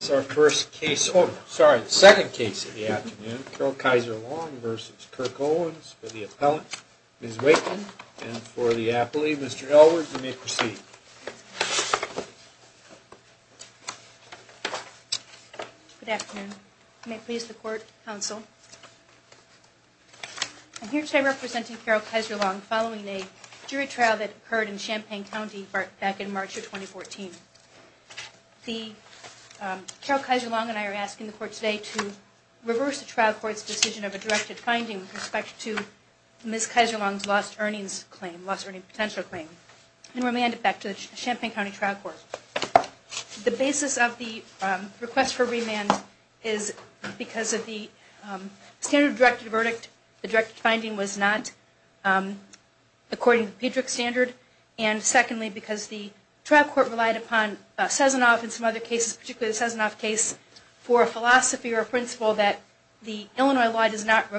This is our second case of the afternoon, Carole Kaiser-Long v. Kirk Owens, for the appellant, Ms. Wakeman, and for the appellee, Mr. Elwood, you may proceed. Good afternoon. May it please the Court, Counsel. I'm here today representing Carole Kaiser-Long following a jury trial that occurred in Champaign County back in March of 2014. Carole Kaiser-Long and I are asking the Court today to reverse the trial court's decision of a directed finding with respect to Ms. Kaiser-Long's lost earnings claim, lost earnings potential claim, and remand it back to the Champaign County trial court. The basis of the request for remand is because of the standard of directed verdict, the directed finding was not according to the PEDRC standard, and secondly because the trial court relied upon Sessanoff and some other cases, particularly the Sessanoff case, for a philosophy or a principle that the Illinois law does not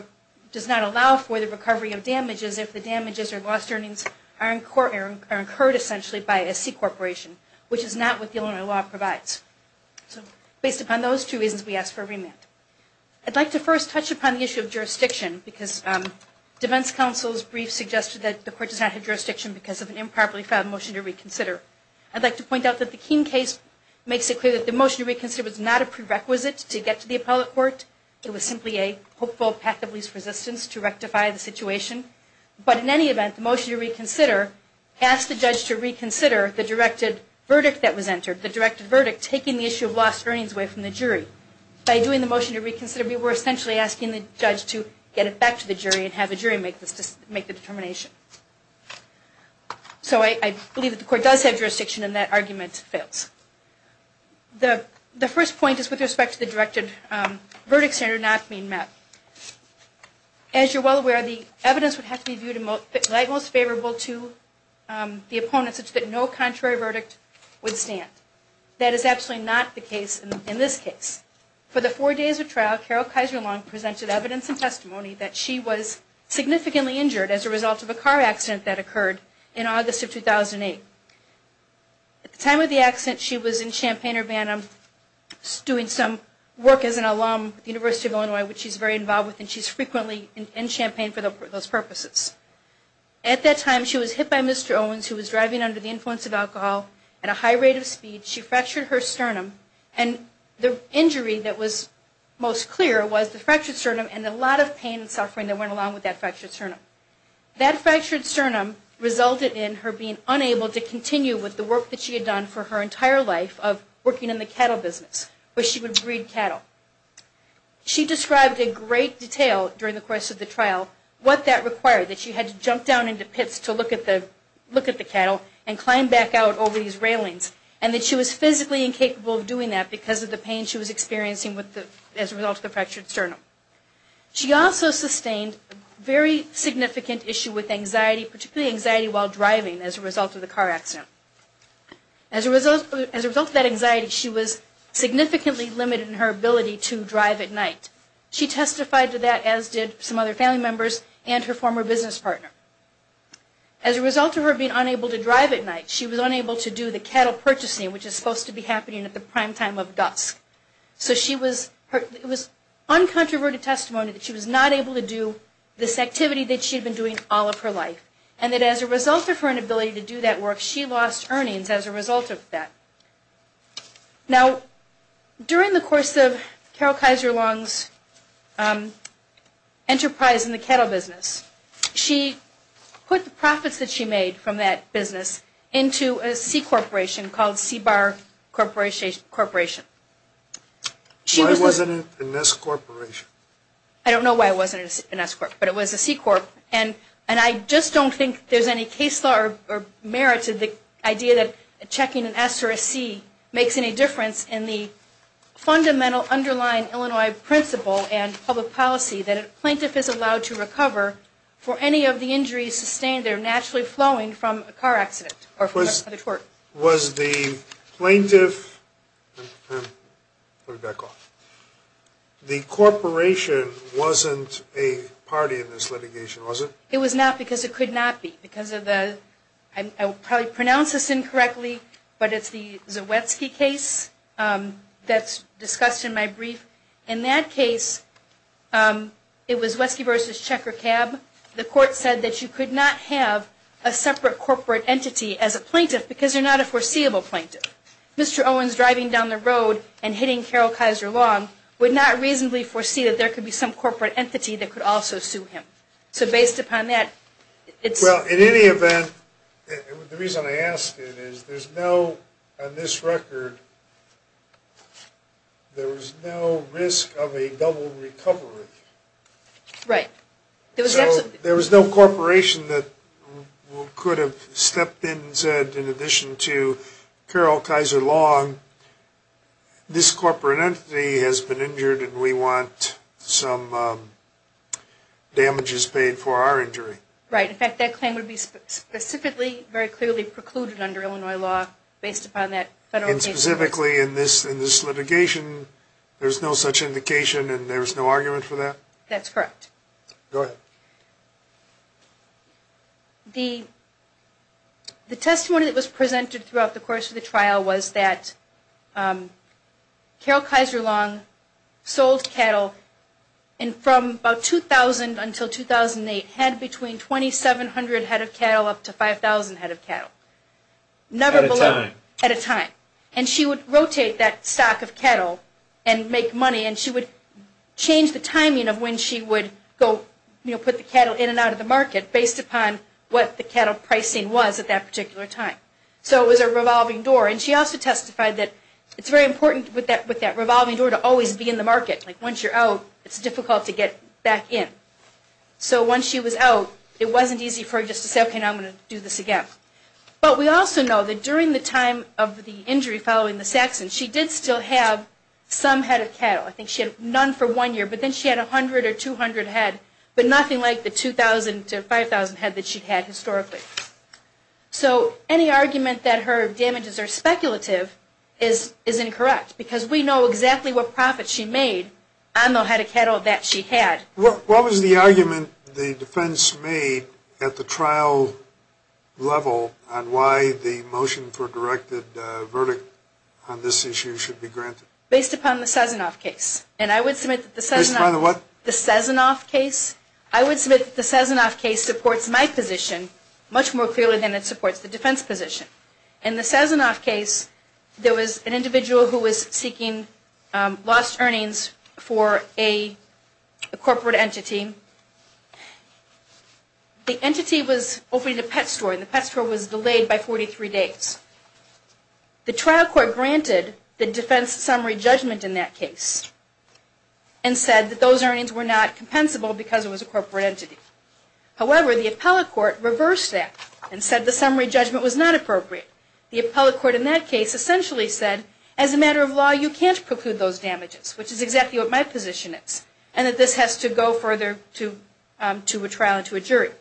allow for the recovery of damages if the damages or lost earnings are incurred essentially by a C-corporation, which is not what the Illinois law provides. So based upon those two reasons, we ask for a remand. I'd like to first touch upon the issue of jurisdiction because defense counsel's brief suggested that the court does not have jurisdiction because of an improperly filed motion to reconsider. I'd like to point out that the Keene case makes it clear that the motion to reconsider was not a prerequisite to get to the appellate court. It was simply a hopeful pact of least resistance to rectify the situation. But in any event, the motion to reconsider asked the judge to reconsider the directed verdict that was entered, the directed verdict taking the issue of lost earnings away from the jury. By doing the motion to reconsider, we were essentially asking the judge to get it back to the jury and have the jury make the determination. So I believe that the court does have jurisdiction and that argument fails. The first point is with respect to the directed verdict standard not being met. As you're well aware, the evidence would have to be viewed like most favorable to the opponent such that no contrary verdict would stand. That is absolutely not the case in this case. For the four days of trial, Carol Kaiser-Long presented evidence and testimony that she was significantly injured as a result of a car accident that occurred in August of 2008. At the time of the accident, she was in Champaign-Urbana doing some work as an alum at the University of Illinois, which she's very involved with, and she's frequently in Champaign for those purposes. At that time, she was hit by Mr. Owens, who was driving under the influence of alcohol at a high rate of speed. She fractured her sternum, and the injury that was most clear was the fractured sternum and a lot of pain and suffering that went along with that fractured sternum. That fractured sternum resulted in her being unable to continue with the work that she had done for her entire life of working in the cattle business, where she would breed cattle. She described in great detail during the course of the trial what that required, that she had to jump down into pits to look at the cattle and climb back out over these railings, and that she was physically incapable of doing that because of the pain she was experiencing as a result of the fractured sternum. She also sustained a very significant issue with anxiety, particularly anxiety while driving as a result of the car accident. As a result of that anxiety, she was significantly limited in her ability to drive at night. She testified to that, as did some other family members and her former business partner. As a result of her being unable to drive at night, she was unable to do the cattle purchasing, which is supposed to be happening at the prime time of dusk. So she was, it was uncontroverted testimony that she was not able to do this activity that she had been doing all of her life, and that as a result of her inability to do that work, she lost earnings as a result of that. Now, during the course of Carol Kaiser Long's enterprise in the cattle business, she put the profits that she made from that business into a C-corporation called C-Bar Corporation. Why wasn't it an S-corporation? I don't know why it wasn't an S-corp, but it was a C-corp, and I just don't think there's any case law or merit to the idea that checking an S or a C makes any difference in the fundamental underlying Illinois principle and public policy that a plaintiff is allowed to recover for any of the injuries sustained that are naturally flowing from a car accident or from another tort. Was the plaintiff, let me back off, the corporation wasn't a party in this litigation, was it? It was not, because it could not be, because of the, I will probably pronounce this incorrectly, but it's the Zawetsky case that's discussed in my brief. In that case, it was Zawetsky v. Checker Cab. The court said that you could not have a separate corporate entity as a plaintiff because you're not a foreseeable plaintiff. Mr. Owens driving down the road and hitting Carol Kaiser Long would not reasonably foresee that there could be some corporate entity that could also sue him. So based upon that, it's... Well, in any event, the reason I ask it is there's no, on this record, there was no risk of a double recovery. Right. So there was no corporation that could have stepped in and said, in addition to Carol Kaiser Long, this corporate entity has been injured and we want some damages paid for our injury. Right. In fact, that claim would be specifically, very clearly precluded under Illinois law based upon that federal case. And specifically in this litigation, there's no such indication and there's no argument for that? That's correct. Go ahead. The testimony that was presented throughout the course of the trial was that Carol Kaiser Long sold cattle and from about 2000 until 2008, had between 2,700 head of cattle up to 5,000 head of cattle. At a time. At a time. And she would rotate that stock of cattle and make money and she would change the timing of when she would go, you know, put the cattle in and out of the market based upon what the cattle pricing was at that particular time. So it was a revolving door. And she also testified that it's very important with that revolving door to always be in the market. Like once you're out, it's difficult to get back in. So once she was out, it wasn't easy for her just to say, okay, now I'm going to do this again. But we also know that during the time of the injury following the Saxon, she did still have some head of cattle. I think she had none for one year, but then she had 100 or 200 head, but nothing like the 2,000 to 5,000 head that she had historically. So any argument that her damages are speculative is incorrect because we know exactly what profit she made on the head of cattle that she had. What was the argument the defense made at the trial level on why the motion for a directed verdict on this issue should be granted? Based upon the Sazonoff case. Based upon the what? The Sazonoff case. I would submit that the Sazonoff case supports my position much more clearly than it supports the defense position. In the Sazonoff case, there was an individual who was seeking lost earnings for a corporate entity. The entity was opening a pet store and the pet store was delayed by 43 days. The trial court granted the defense summary judgment in that case and said that those earnings were not compensable because it was a corporate entity. However, the appellate court reversed that and said the summary judgment was not appropriate. The appellate court in that case essentially said, as a matter of law, you can't preclude those damages, which is exactly what my position is, and that this has to go further to a trial and to a jury.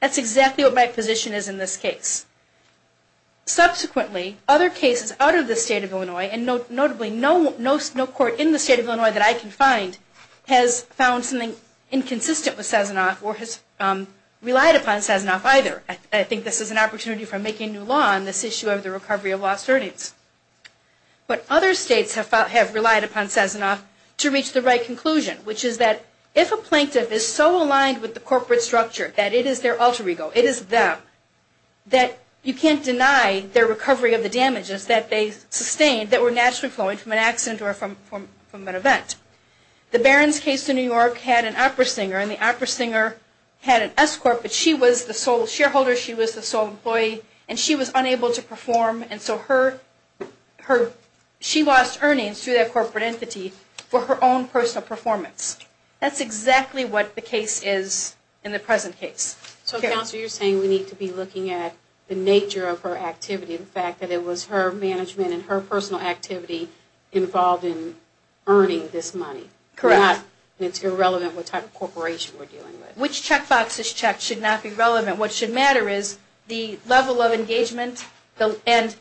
That's exactly what my position is in this case. Subsequently, other cases out of the state of Illinois, and notably no court in the state of Illinois that I can find, has found something inconsistent with Sazonoff or has relied upon Sazonoff either. I think this is an opportunity for making new law on this issue of the recovery of lost earnings. But other states have relied upon Sazonoff to reach the right conclusion, which is that if a plaintiff is so aligned with the corporate structure that it is their alter ego, it is them, that you can't deny their recovery of the damages that they sustained that were naturally flowing from an accident or from an event. The Barron's case in New York had an opera singer, and the opera singer had an escort, but she was the sole shareholder, she was the sole employee, and she was unable to perform. And so she lost earnings through that corporate entity for her own personal performance. That's exactly what the case is in the present case. So, Counselor, you're saying we need to be looking at the nature of her activity, the fact that it was her management and her personal activity involved in earning this money. Correct. It's irrelevant what type of corporation we're dealing with. Which checkbox is checked should not be relevant. What should matter is the level of engagement and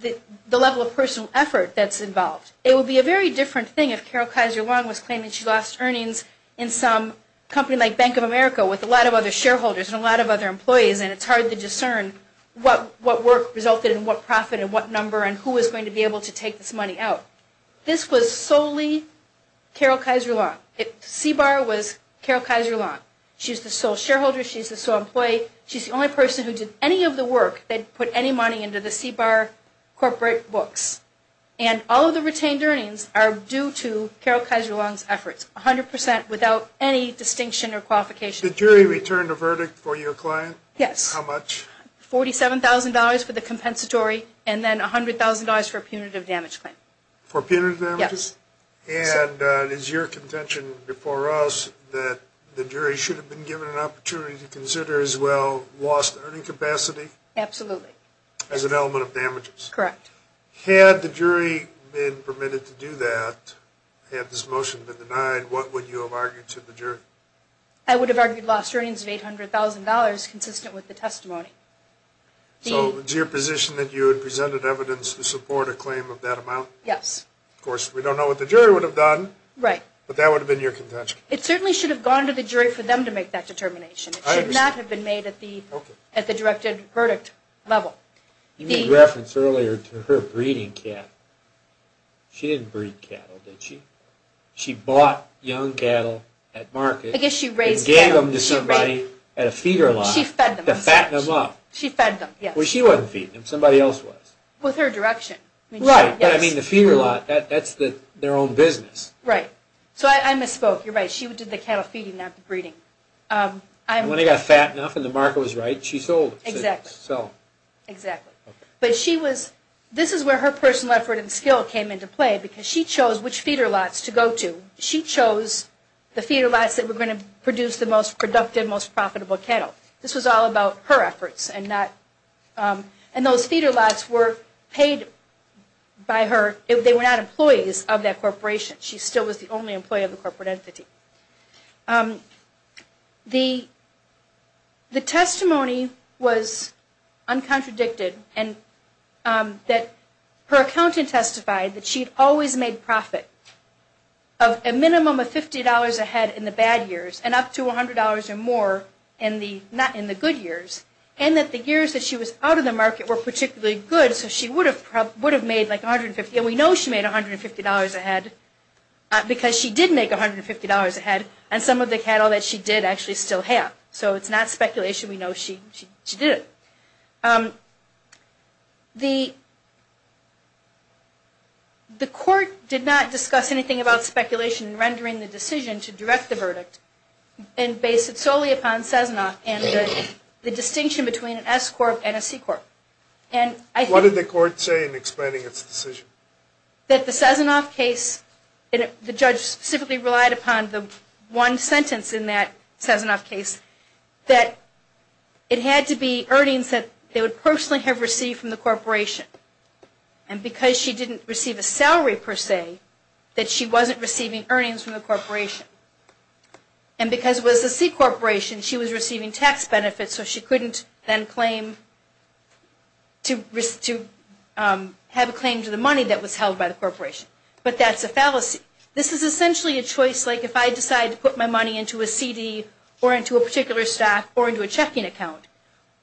the level of personal effort that's involved. It would be a very different thing if Carol Kaiser-Long was claiming she lost earnings in some company like Bank of America with a lot of other shareholders and a lot of other employees, and it's hard to discern what work resulted and what profit and what number and who was going to be able to take this money out. This was solely Carol Kaiser-Long. CBAR was Carol Kaiser-Long. She's the sole shareholder, she's the sole employee, she's the only person who did any of the work that put any money into the CBAR corporate books. And all of the retained earnings are due to Carol Kaiser-Long's efforts, 100 percent, without any distinction or qualification. Did the jury return the verdict for your client? Yes. How much? $47,000 for the compensatory and then $100,000 for a punitive damage claim. For punitive damages? Yes. And is your contention before us that the jury should have been given an opportunity to consider as well lost earning capacity? Absolutely. As an element of damages? Correct. Had the jury been permitted to do that, had this motion been denied, what would you have argued to the jury? I would have argued lost earnings of $800,000 consistent with the testimony. So it's your position that you had presented evidence to support a claim of that amount? Yes. Of course, we don't know what the jury would have done. Right. But that would have been your contention. It certainly should have gone to the jury for them to make that determination. It should not have been made at the directed verdict level. You made reference earlier to her breeding cattle. She didn't breed cattle, did she? She bought young cattle at market and gave them to somebody at a feeder lot to fatten them up. She fed them, yes. Well, she wasn't feeding them. Somebody else was. With her direction. Right. But I mean the feeder lot, that's their own business. Right. So I misspoke. You're right. She did the cattle feeding, not the breeding. When they got fattened up and the market was right, she sold them. Exactly. So. Exactly. But this is where her personal effort and skill came into play because she chose which feeder lots to go to. She chose the feeder lots that were going to produce the most productive, most profitable cattle. This was all about her efforts and those feeder lots were paid by her. They were not employees of that corporation. She still was the only employee of the corporate entity. The testimony was uncontradicted and that her accountant testified that she always made profit of a minimum of $50 ahead in the bad years and up to $100 or more in the good years and that the years that she was out of the market were particularly good. So she would have made like $150. And we know she made $150 ahead because she did make $150 ahead and some of the cattle that she did actually still have. So it's not speculation. We know she did it. The court did not discuss anything about speculation in rendering the decision to direct the verdict and base it solely upon Cessna and the distinction between an S corp and a C corp. What did the court say in explaining its decision? That the Cessna case, the judge specifically relied upon the one sentence in that Cessna case, that it had to be earnings that they would personally have received from the corporation. And because she didn't receive a salary per se, that she wasn't receiving earnings from the corporation. And because it was a C corporation, she was receiving tax benefits, so she couldn't then claim to have a claim to the money that was held by the corporation. But that's a fallacy. This is essentially a choice like if I decide to put my money into a CD or into a particular stock or into a checking account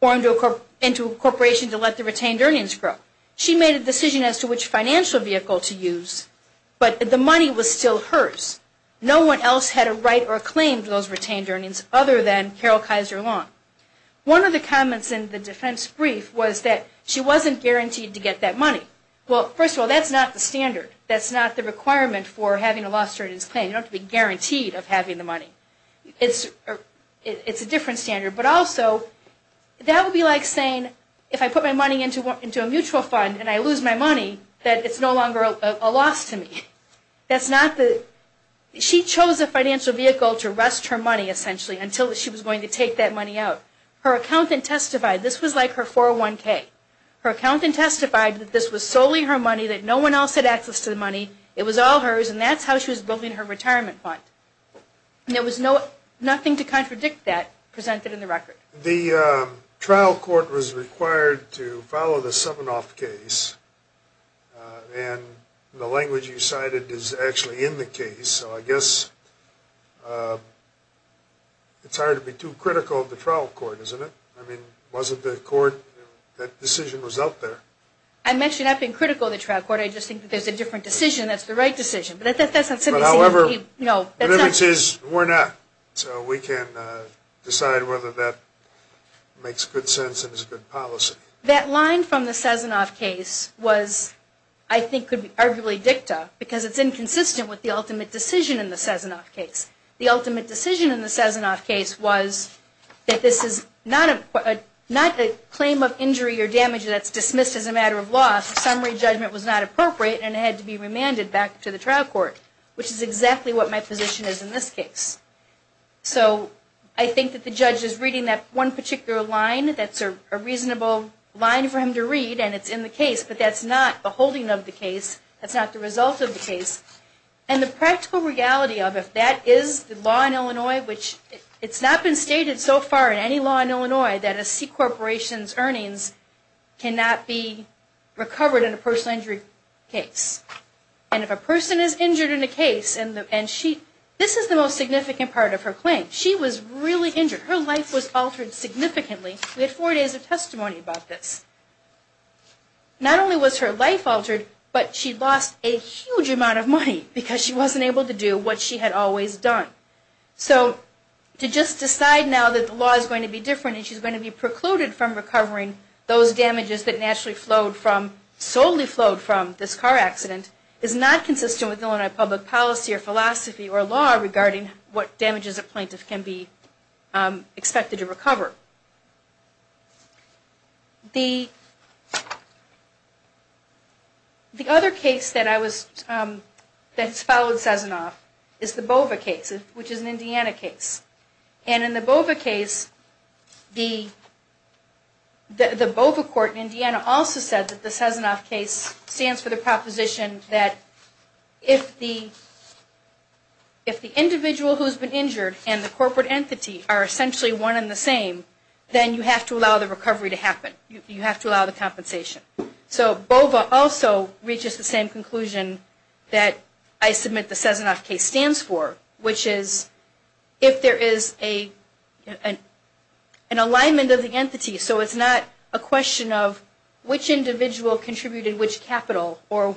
or into a corporation to let the retained earnings grow. She made a decision as to which financial vehicle to use, but the money was still hers. No one else had a right or a claim to those retained earnings other than Carol Kizer Long. One of the comments in the defense brief was that she wasn't guaranteed to get that money. Well, first of all, that's not the standard. That's not the requirement for having a loss to earnings claim. You don't have to be guaranteed of having the money. It's a different standard. But also, that would be like saying if I put my money into a mutual fund and I lose my money, that it's no longer a loss to me. She chose a financial vehicle to rest her money, essentially, until she was going to take that money out. Her accountant testified. This was like her 401K. Her accountant testified that this was solely her money, that no one else had access to the money. It was all hers, and that's how she was building her retirement fund. There was nothing to contradict that presented in the record. The trial court was required to follow the 7-off case, and the language you cited is actually in the case. So I guess it's hard to be too critical of the trial court, isn't it? I mean, wasn't the court that decision was out there? I'm actually not being critical of the trial court. I just think that there's a different decision that's the right decision. However, we're not, so we can decide whether that makes good sense and is a good policy. That line from the 7-off case was, I think, could be arguably dicta, because it's inconsistent with the ultimate decision in the 7-off case. The ultimate decision in the 7-off case was that this is not a claim of injury or damage that's dismissed as a matter of law. The summary judgment was not appropriate, and it had to be remanded back to the trial court, which is exactly what my position is in this case. So I think that the judge is reading that one particular line that's a reasonable line for him to read, and it's in the case, but that's not the holding of the case. That's not the result of the case. And the practical reality of it, that is the law in Illinois, which it's not been stated so far in any law in Illinois that a C corporation's earnings cannot be recovered in a personal injury case. And if a person is injured in a case and she, this is the most significant part of her claim. She was really injured. Her life was altered significantly. We had four days of testimony about this. Not only was her life altered, but she lost a huge amount of money because she wasn't able to do what she had always done. So to just decide now that the law is going to be different, and she's going to be precluded from recovering those damages that naturally flowed from, solely flowed from this car accident, is not consistent with Illinois public policy or philosophy or law regarding what damages a plaintiff can be expected to recover. The other case that I was, that's followed Sazonoff is the BOVA case, which is an Indiana case. And in the BOVA case, the BOVA court in Indiana also said that the Sazonoff case stands for the proposition that if the, if the individual who's been injured and the corporate entity are essentially one and the same, then you have to allow the recovery to happen. You have to allow the compensation. So BOVA also reaches the same conclusion that I submit the Sazonoff case stands for, which is if there is a, an alignment of the entity, so it's not a question of which individual contributed which capital or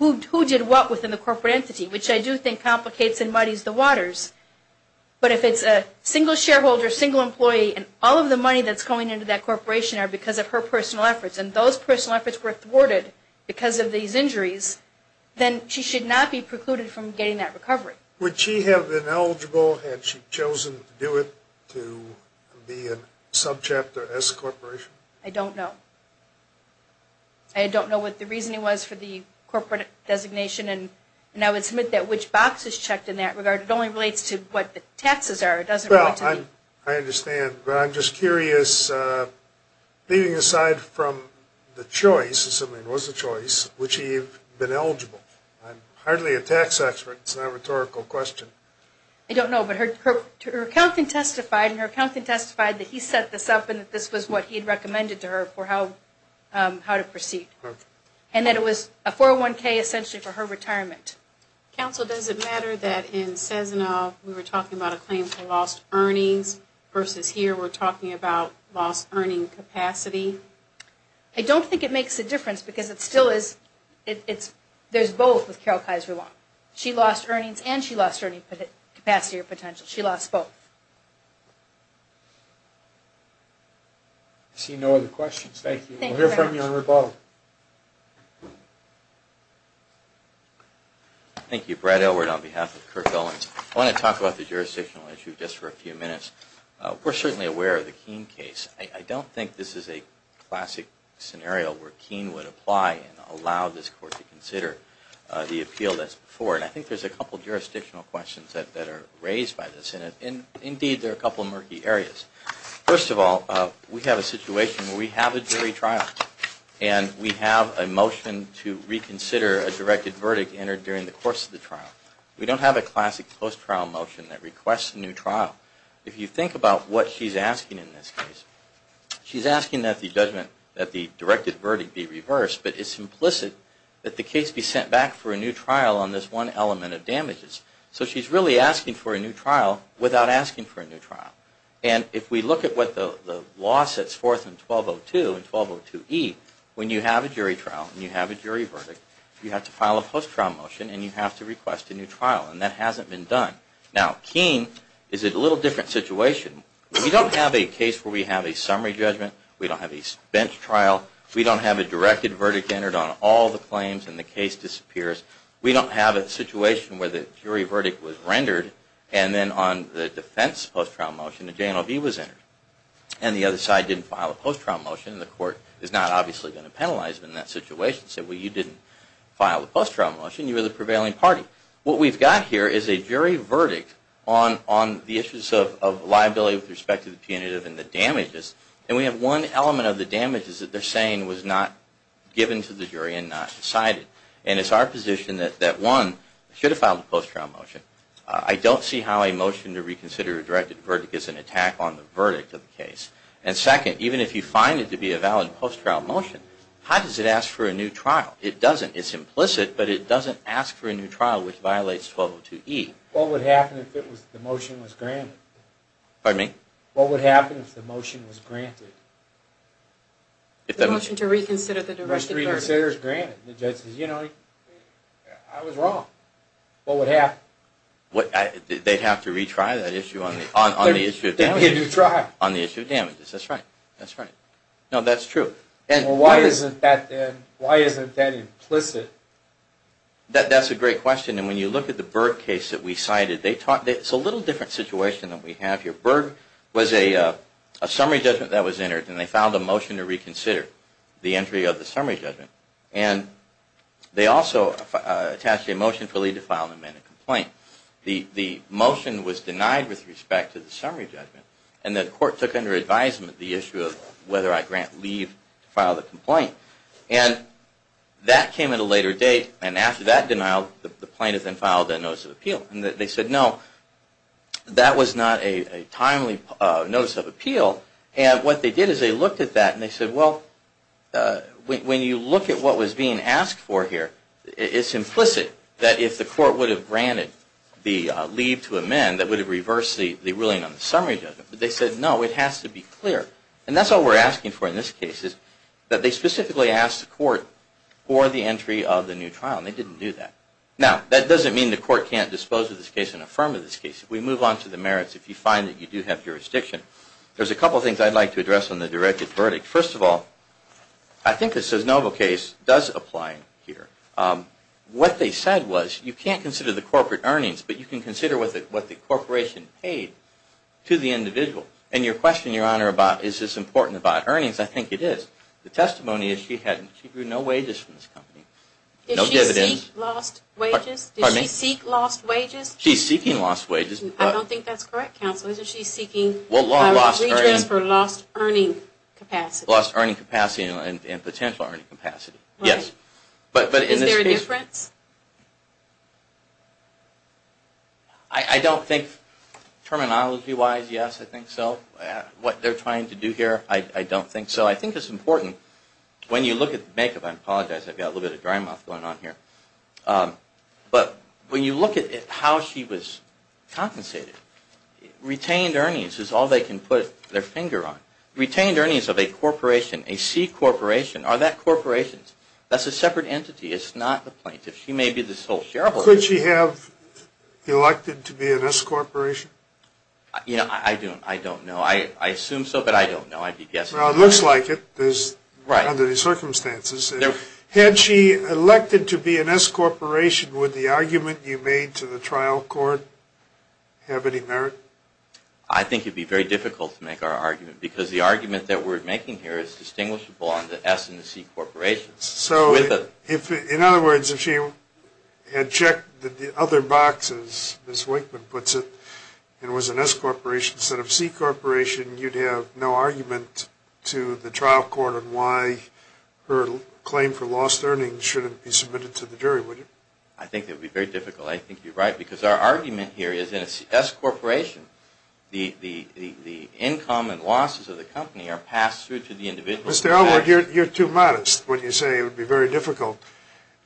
who did what within the corporate entity, which I do think complicates and muddies the waters. But if it's a single shareholder, single employee, and all of the money that's going into that corporation are because of her personal efforts, and those personal efforts were thwarted because of these injuries, then she should not be precluded from getting that recovery. Would she have been eligible had she chosen to do it, to be a subchapter S corporation? I don't know. I don't know what the reasoning was for the corporate designation and I would submit that which box is checked in that regard. It only relates to what the taxes are. Well, I understand, but I'm just curious, leaving aside from the choice, assuming it was a choice, would she have been eligible? I'm hardly a tax expert. It's not a rhetorical question. I don't know, but her accountant testified, and her accountant testified that he set this up and that this was what he had recommended to her for how to proceed. Okay. And that it was a 401K essentially for her retirement. Counsel, does it matter that in Cessna we were talking about a claim for lost earnings versus here we're talking about lost earning capacity? I don't think it makes a difference because it still is, there's both with Carol Kaiser-Long. She lost earnings and she lost earning capacity or potential. She lost both. I see no other questions. Thank you. We'll hear from you on rebuttal. Thank you. Brad Elwood on behalf of Kirk Ellings. I want to talk about the jurisdictional issue just for a few minutes. We're certainly aware of the Keene case. I don't think this is a classic scenario where Keene would apply and allow this court to consider the appeal that's before it. I think there's a couple of jurisdictional questions that are raised by the Senate, and indeed there are a couple of murky areas. First of all, we have a situation where we have a jury trial and we have a motion to reconsider a directed verdict entered during the course of the trial. We don't have a classic post-trial motion that requests a new trial. If you think about what she's asking in this case, she's asking that the directed verdict be reversed, but it's implicit that the case be sent back for a new trial on this one element of damages. So she's really asking for a new trial without asking for a new trial. And if we look at what the law sets forth in 1202 and 1202E, when you have a jury trial and you have a jury verdict, you have to file a post-trial motion and you have to request a new trial, and that hasn't been done. Now, Keene is a little different situation. We don't have a case where we have a summary judgment. We don't have a spent trial. We don't have a directed verdict entered on all the claims and the case disappears. We don't have a situation where the jury verdict was rendered and then on the defense post-trial motion, a J&OB was entered and the other side didn't file a post-trial motion, and the court is not obviously going to penalize them in that situation and say, well, you didn't file a post-trial motion. You were the prevailing party. What we've got here is a jury verdict on the issues of liability with respect to the punitive and the damages, and we have one element of the damages that they're saying was not given to the jury and not decided. And it's our position that, one, I should have filed a post-trial motion. I don't see how a motion to reconsider a directed verdict is an attack on the verdict of the case. And second, even if you find it to be a valid post-trial motion, how does it ask for a new trial? It doesn't. It's implicit, but it doesn't ask for a new trial, which violates 1202E. What would happen if the motion was granted? Pardon me? The motion to reconsider the directed verdict. The motion to reconsider is granted. The judge says, you know, I was wrong. What would happen? They'd have to retry that issue on the issue of damages. They could retry. On the issue of damages. That's right. That's right. No, that's true. Well, why isn't that implicit? That's a great question, and when you look at the Berg case that we cited, it's a little different situation than we have here. Berg was a summary judgment that was entered, and they filed a motion to reconsider the entry of the summary judgment. And they also attached a motion for Lee to file an amended complaint. The motion was denied with respect to the summary judgment, and the court took under advisement the issue of whether I grant Lee to file the complaint. And that came at a later date, and after that denial, the plaintiff then filed a notice of appeal. And they said, no, that was not a timely notice of appeal. And what they did is they looked at that and they said, well, when you look at what was being asked for here, it's implicit that if the court would have granted Lee to amend, that would have reversed the ruling on the summary judgment. But they said, no, it has to be clear. And that's all we're asking for in this case, is that they specifically ask the court for the entry of the new trial, and they didn't do that. Now, that doesn't mean the court can't dispose of this case and affirm this case. We move on to the merits if you find that you do have jurisdiction. There's a couple of things I'd like to address on the directed verdict. First of all, I think the Cisnova case does apply here. What they said was you can't consider the corporate earnings, but you can consider what the corporation paid to the individual. And your question, Your Honor, about is this important about earnings, I think it is. The testimony is she had no wages from this company. Did she seek lost wages? She's seeking lost wages. I don't think that's correct, Counsel. She's seeking lost earning capacity. Lost earning capacity and potential earning capacity, yes. Is there a difference? I don't think terminology-wise, yes, I think so. What they're trying to do here, I don't think so. I think it's important, when you look at the makeup, I apologize, I've got a little bit of dry mouth going on here. But when you look at how she was compensated, retained earnings is all they can put their finger on. Retained earnings of a corporation, a C corporation, are that corporations? That's a separate entity. It's not the plaintiff. She may be the sole shareholder. Could she have elected to be an S corporation? I don't know. I assume so, but I don't know. I'd be guessing. Well, it looks like it under the circumstances. Had she elected to be an S corporation, would the argument you made to the trial court have any merit? I think it would be very difficult to make our argument, because the argument that we're making here is distinguishable on the S and the C corporations. So, in other words, if she had checked the other boxes, as Wakeman puts it, and was an S corporation instead of C corporation, you'd have no argument to the trial court on why her claim for lost earnings shouldn't be submitted to the jury, would you? I think it would be very difficult. I think you're right, because our argument here is in an S corporation, the income and losses of the company are passed through to the individual. Mr. Elwood, you're too modest when you say it would be very difficult.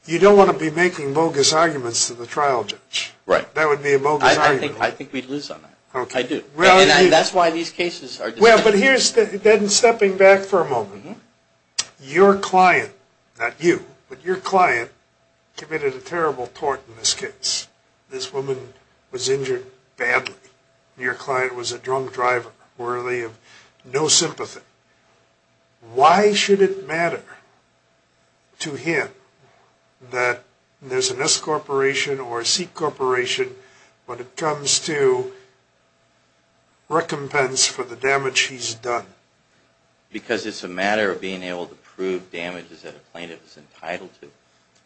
You don't want to be making bogus arguments to the trial judge. Right. That would be a bogus argument. I think we'd lose on that. I do. And that's why these cases are decided. Well, but here's, then stepping back for a moment, your client, not you, but your client committed a terrible tort in this case. This woman was injured badly. Your client was a drunk driver worthy of no sympathy. Why should it matter to him that there's an S corporation or a C corporation when it comes to recompense for the damage he's done? Because it's a matter of being able to prove damages that a plaintiff is entitled to.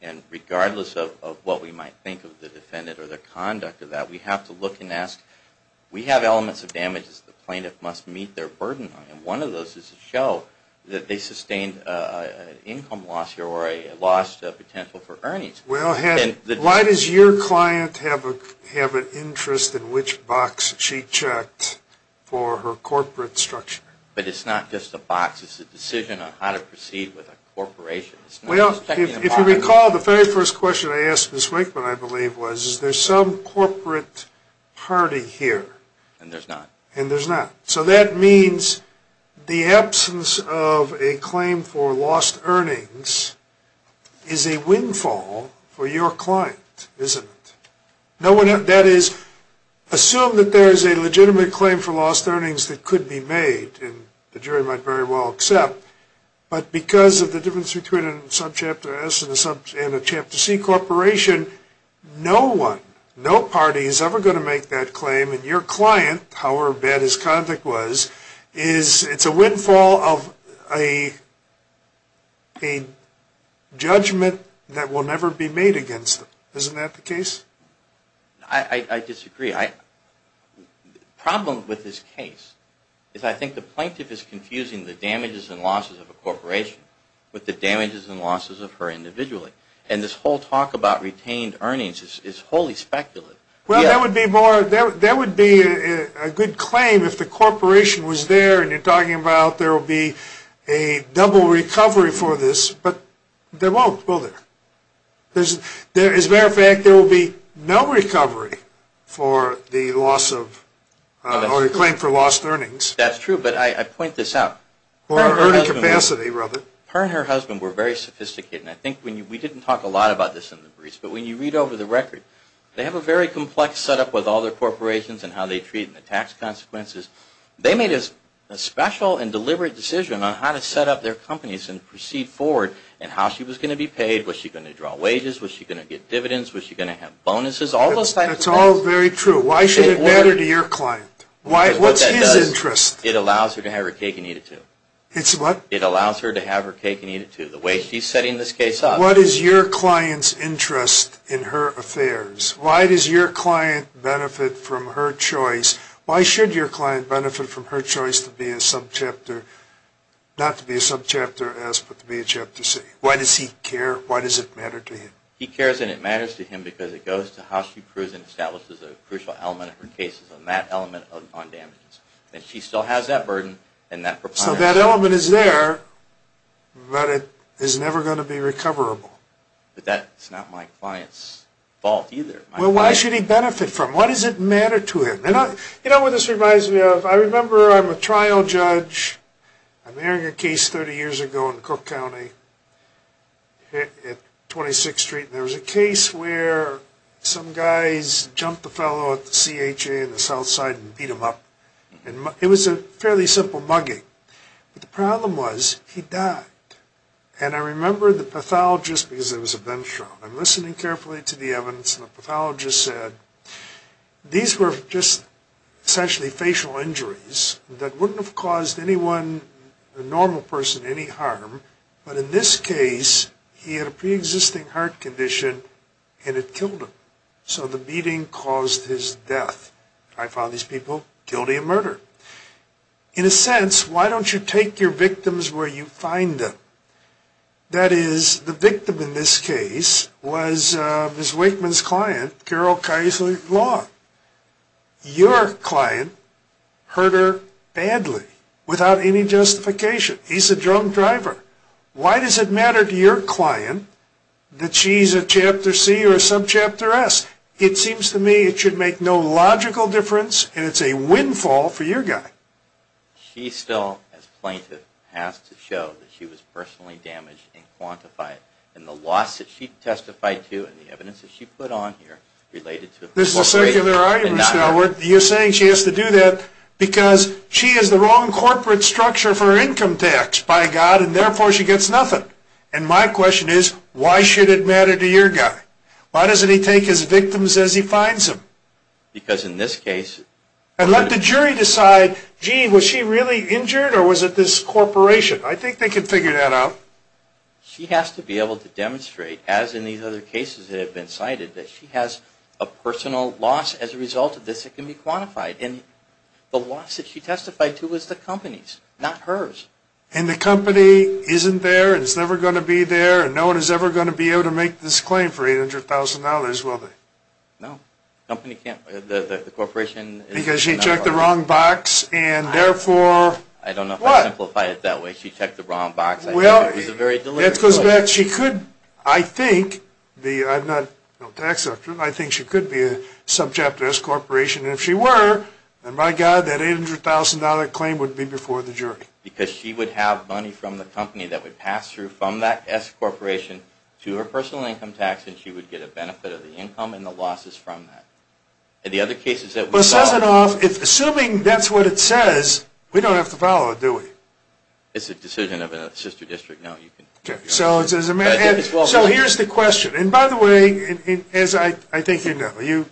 And regardless of what we might think of the defendant or the conduct of that, we have to look and ask, we have elements of damages the plaintiff must meet their burden on. And one of those is to show that they sustained an income loss or a loss of potential for earnings. Why does your client have an interest in which box she checked for her corporate structure? But it's not just a box. It's a decision on how to proceed with a corporation. Well, if you recall, the very first question I asked Ms. Wakeman, I believe, was is there some corporate party here? And there's not. And there's not. So that means the absence of a claim for lost earnings is a windfall for your client, isn't it? That is, assume that there is a legitimate claim for lost earnings that could be made and the jury might very well accept. But because of the difference between a Subchapter S and a Chapter C corporation, no one, no party is ever going to make that claim. And your client, however bad his conduct was, it's a windfall of a judgment that will never be made against him. Isn't that the case? I disagree. The problem with this case is I think the plaintiff is confusing the damages and losses of a corporation with the damages and losses of her individually. And this whole talk about retained earnings is wholly speculative. Well, that would be a good claim if the corporation was there and you're talking about there will be a double recovery for this. But there won't, will there? As a matter of fact, there will be no recovery for the loss of or the claim for lost earnings. That's true. But I point this out. Her and her husband were very sophisticated. And I think we didn't talk a lot about this in the briefs. But when you read over the record, they have a very complex setup with all their corporations and how they treat and the tax consequences. They made a special and deliberate decision on how to set up their companies and proceed forward and how she was going to be paid. Was she going to draw wages? Was she going to get dividends? Was she going to have bonuses? All those types of things. That's all very true. Why should it matter to your client? What's his interest? It allows her to have her cake and eat it too. It's what? It allows her to have her cake and eat it too. The way she's setting this case up. What is your client's interest in her affairs? Why does your client benefit from her choice? Why should your client benefit from her choice to be a subchapter, not to be a subchapter S but to be a chapter C? Why does he care? Why does it matter to him? He cares and it matters to him because it goes to how she proves and establishes a crucial element of her cases on that element on damages. And she still has that burden and that propriety. That element is there but it is never going to be recoverable. But that's not my client's fault either. Well, why should he benefit from it? Why does it matter to him? You know what this reminds me of? I remember I'm a trial judge. I'm airing a case 30 years ago in Cook County at 26th Street. There was a case where some guys jumped the fellow at the CHA in the south side and beat him up. It was a fairly simple mugging. But the problem was he died. And I remember the pathologist, because it was a bench trial, I'm listening carefully to the evidence and the pathologist said, these were just essentially facial injuries that wouldn't have caused anyone, a normal person, any harm. But in this case, he had a preexisting heart condition and it killed him. So the beating caused his death. I found these people guilty of murder. In a sense, why don't you take your victims where you find them? That is, the victim in this case was Ms. Wakeman's client, Carol Keisler-Long. Your client hurt her badly without any justification. He's a drunk driver. Why does it matter to your client that she's a Chapter C or a Subchapter S? It seems to me it should make no logical difference, and it's a windfall for your guy. She still, as a plaintiff, has to show that she was personally damaged and quantify it. And the loss that she testified to and the evidence that she put on here related to it. This is a secular argument. You're saying she has to do that because she has the wrong corporate structure for her income tax, by God, and therefore she gets nothing. And my question is, why should it matter to your guy? Why doesn't he take his victims as he finds them? Because in this case. And let the jury decide, gee, was she really injured or was it this corporation? I think they can figure that out. She has to be able to demonstrate, as in these other cases that have been cited, that she has a personal loss as a result of this that can be quantified. And the loss that she testified to was the company's, not hers. And the company isn't there and it's never going to be there and no one is ever going to be able to make this claim for $800,000, will they? No. The corporation isn't there. Because she checked the wrong box and therefore what? I don't know if I can simplify it that way. She checked the wrong box. Well, that goes back. She could, I think, I'm not a tax doctor, but I think she could be a subject to S-Corporation. And if she were, then by God, that $800,000 claim would be before the jury. Because she would have money from the company that would pass through from that S-Corporation to her personal income tax and she would get a benefit of the income and the losses from that. In the other cases that we follow. Assuming that's what it says, we don't have to follow it, do we? It's a decision of a sister district. So here's the question. And by the way, as I think you know, you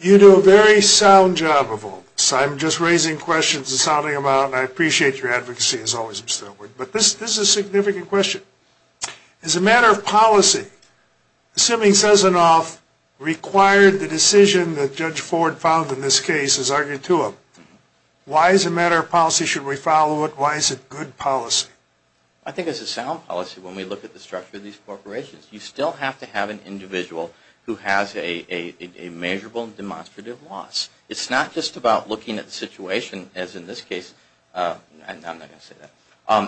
do a very sound job of all this. I'm just raising questions and sounding them out. And I appreciate your advocacy, as always, Mr. Elwood. But this is a significant question. As a matter of policy, assuming Sessanoff required the decision that Judge Ford found in this case as argued to him, why as a matter of policy should we follow it? Why is it good policy? I think it's a sound policy when we look at the structure of these corporations. You still have to have an individual who has a measurable and demonstrative loss. It's not just about looking at the situation, as in this case. I'm not going to say that.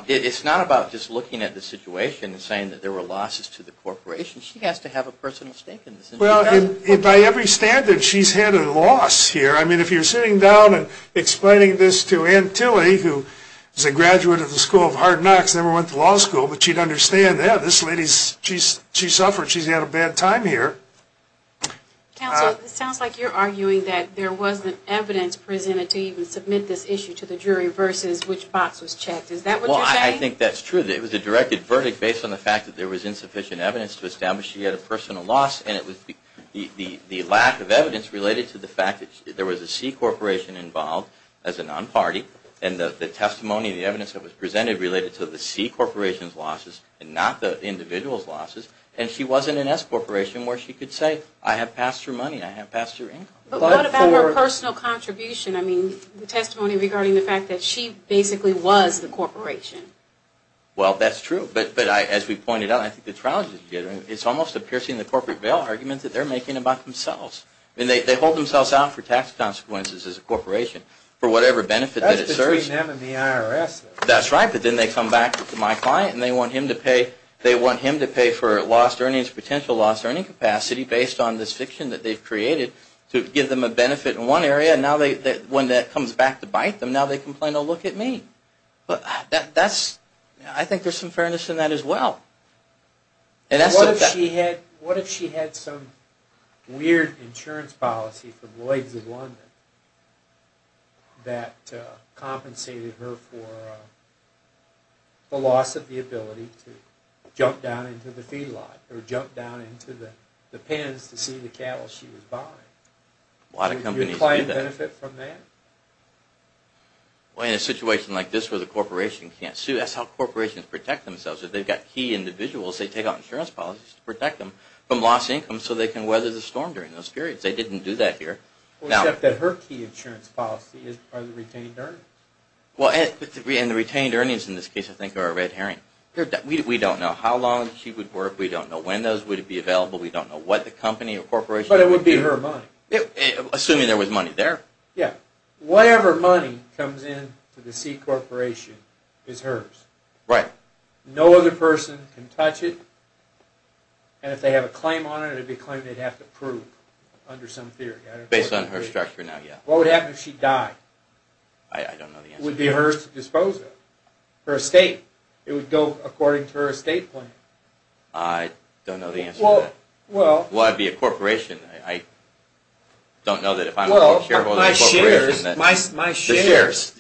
It's not about just looking at the situation and saying that there were losses to the corporation. She has to have a personal stake in this. Well, by every standard, she's had a loss here. I mean, if you're sitting down and explaining this to Ann Tilley, who is a graduate of the School of Hard Knocks, never went to law school, but she'd understand that. This lady, she suffered. She's had a bad time here. Counsel, it sounds like you're arguing that there wasn't evidence presented to even submit this issue to the jury versus which box was checked. Is that what you're saying? Well, I think that's true. It was a directed verdict based on the fact that there was insufficient evidence to establish she had a personal loss, and it was the lack of evidence related to the fact that there was a C corporation involved as a non-party, and the testimony and the evidence that was presented related to the C corporation's losses and not the individual's losses, and she wasn't an S corporation where she could say, I have passed her money, I have passed her income. But what about her personal contribution? I mean, the testimony regarding the fact that she basically was the corporation. Well, that's true. But as we pointed out, I think the trial is almost a piercing the corporate veil argument that they're making about themselves. I mean, they hold themselves out for tax consequences as a corporation for whatever benefit that it serves. That's between them and the IRS. That's right, but then they come back to my client, and they want him to pay for lost earnings, potential lost earning capacity based on this fiction that they've created to give them a benefit in one area, and now when that comes back to bite them, now they complain, oh, look at me. I think there's some fairness in that as well. What if she had some weird insurance policy from Lloyd's of London that compensated her for the loss of the ability to jump down into the feed lot or jump down into the pens to see the cattle she was buying? A lot of companies do that. Would your client benefit from that? Well, in a situation like this where the corporation can't sue, that's how corporations protect themselves. If they've got key individuals, they take out insurance policies to protect them from lost income so they can weather the storm during those periods. They didn't do that here. Except that her key insurance policy are the retained earnings. Well, and the retained earnings in this case, I think, are a red herring. We don't know how long she would work. We don't know when those would be available. We don't know what the company or corporation would do. But it would be her money. Assuming there was money there. Yeah. Whatever money comes in to the C Corporation is hers. Right. No other person can touch it, and if they have a claim on it, it would be a claim they'd have to prove under some theory. Based on her structure now, yeah. What would happen if she died? I don't know the answer to that. It would be hers to dispose of. Her estate. It would go according to her estate plan. I don't know the answer to that. Well, I'd be a corporation. I don't know that if I'm a shareholder in a corporation that the shares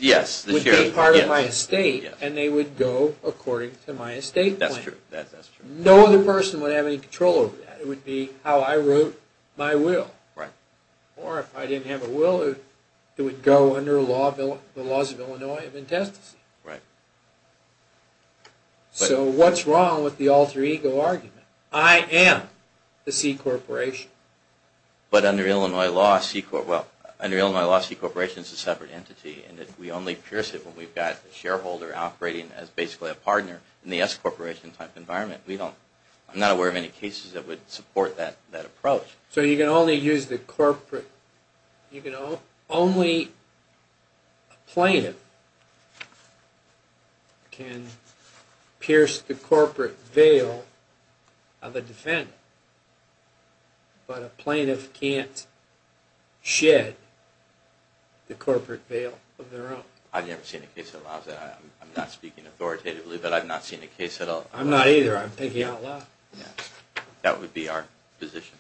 would be part of my estate, and they would go according to my estate plan. That's true. No other person would have any control over that. It would be how I wrote my will. Right. Or if I didn't have a will, it would go under the laws of Illinois of intestacy. Right. So what's wrong with the alter ego argument? I am the C Corporation. But under Illinois law, C Corporation is a separate entity, and we only pierce it when we've got a shareholder operating as basically a partner in the S Corporation type environment. I'm not aware of any cases that would support that approach. So you can only use the corporate. Only a plaintiff can pierce the corporate veil of a defendant, but a plaintiff can't shed the corporate veil of their own. I've never seen a case that allows that. I'm not speaking authoritatively, but I've not seen a case at all. I'm not either. I'm picking out law. That would be our position.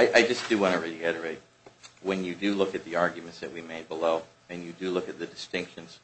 I just do want to reiterate, when you do look at the arguments that we made below and you do look at the distinctions,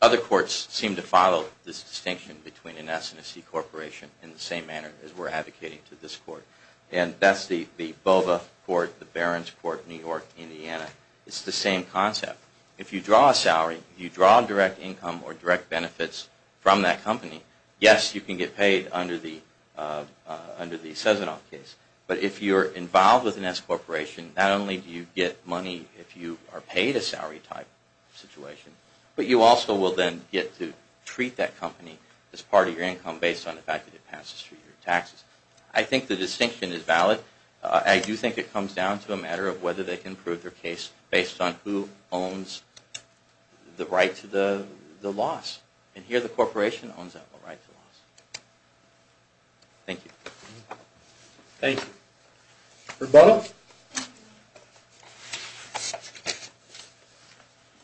other courts seem to follow this distinction between an S and a C Corporation in the same manner as we're advocating to this court. And that's the BOVA court, the Barron's court, New York, Indiana. It's the same concept. If you draw a salary, you draw a direct income or direct benefits from that company, yes, you can get paid under the Cezanoff case. But if you're involved with an S Corporation, not only do you get money if you are paid a salary type situation, but you also will then get to treat that company as part of your income based on the fact that it passes through your taxes. I think the distinction is valid. I do think it comes down to a matter of whether they can prove their case based on who owns the right to the loss. And here the corporation owns that right to the loss. Thank you. Thank you. Rebuttal?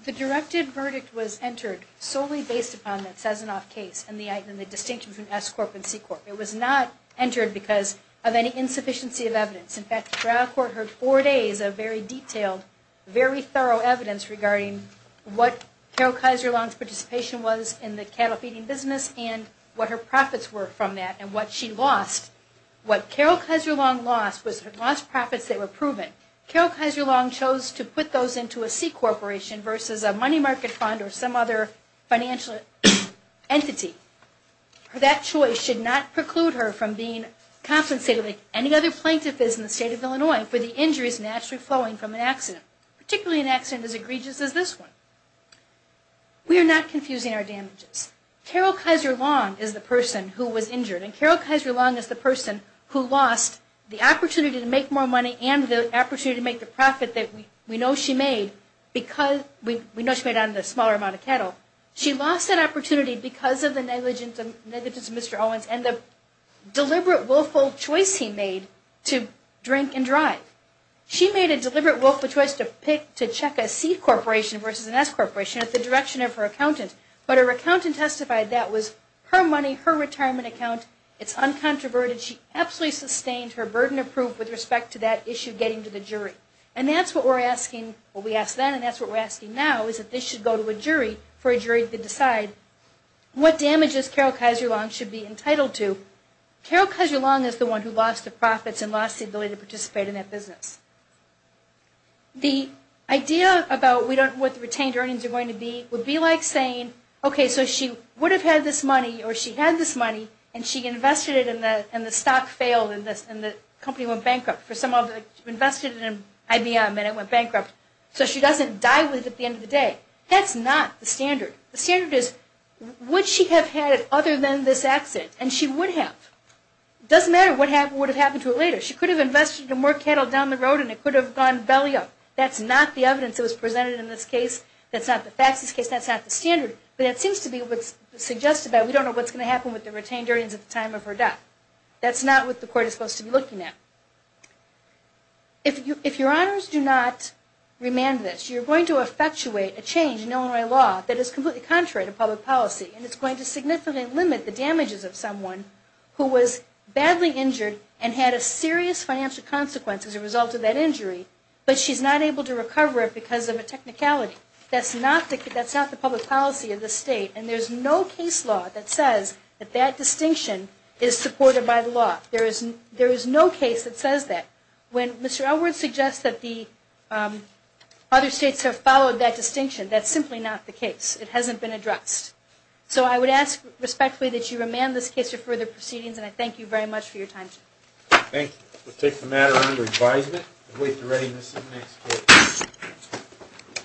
The directed verdict was entered solely based upon that Cezanoff case and the distinction between S Corp and C Corp. It was not entered because of any insufficiency of evidence. In fact, the trial court heard four days of very detailed, very thorough evidence regarding what Carol Kaiser-Long's participation was in the cattle feeding business and what her profits were from that and what she lost. What Carol Kaiser-Long lost was her lost profits that were proven. Carol Kaiser-Long chose to put those into a C Corporation versus a money market fund or some other financial entity. That choice should not preclude her from being compensated like any other plaintiff is in the state of Illinois for the injuries naturally flowing from an accident, particularly an accident as egregious as this one. We are not confusing our damages. Carol Kaiser-Long is the person who was injured and Carol Kaiser-Long is the person who lost the opportunity to make more money and the opportunity to make the profit that we know she made because we know she made on the smaller amount of cattle. She lost that opportunity because of the negligence of Mr. Owens and the deliberate, willful choice he made to drink and drive. She made a deliberate, willful choice to pick, to check a C Corporation versus an S Corporation at the direction of her accountant. But her accountant testified that was her money, her retirement account. It's uncontroverted. She absolutely sustained her burden of proof with respect to that issue getting to the jury. And that's what we're asking. Well, we asked then and that's what we're asking now is that this should go to a jury for a jury to decide what damages Carol Kaiser-Long should be entitled to. Carol Kaiser-Long is the one who lost the profits and lost the ability to participate in that business. The idea about what the retained earnings are going to be would be like saying, okay, so she would have had this money or she had this money and she invested it and the stock failed and the company went bankrupt. For some of it, she invested it in IBM and it went bankrupt. So she doesn't die with it at the end of the day. That's not the standard. The standard is would she have had it other than this accident? And she would have. It doesn't matter what would have happened to it later. She could have invested more cattle down the road and it could have gone belly up. That's not the evidence that was presented in this case. That's not the facts in this case. That's not the standard. But it seems to be what's suggested that we don't know what's going to happen with the retained earnings at the time of her death. That's not what the court is supposed to be looking at. If your honors do not remand this, you're going to effectuate a change in Illinois law that is completely contrary to public policy and it's going to significantly limit the damages of someone who was badly injured and had a serious financial consequence as a result of that injury, but she's not able to recover it because of a technicality. That's not the public policy of this state and there's no case law that says that that distinction is supported by the law. There is no case that says that. When Mr. Elwood suggests that the other states have followed that distinction, that's simply not the case. It hasn't been addressed. So I would ask respectfully that you remand this case for further proceedings and I thank you very much for your time today. Thank you. We'll take the matter under advisement and wait for readiness in the next case.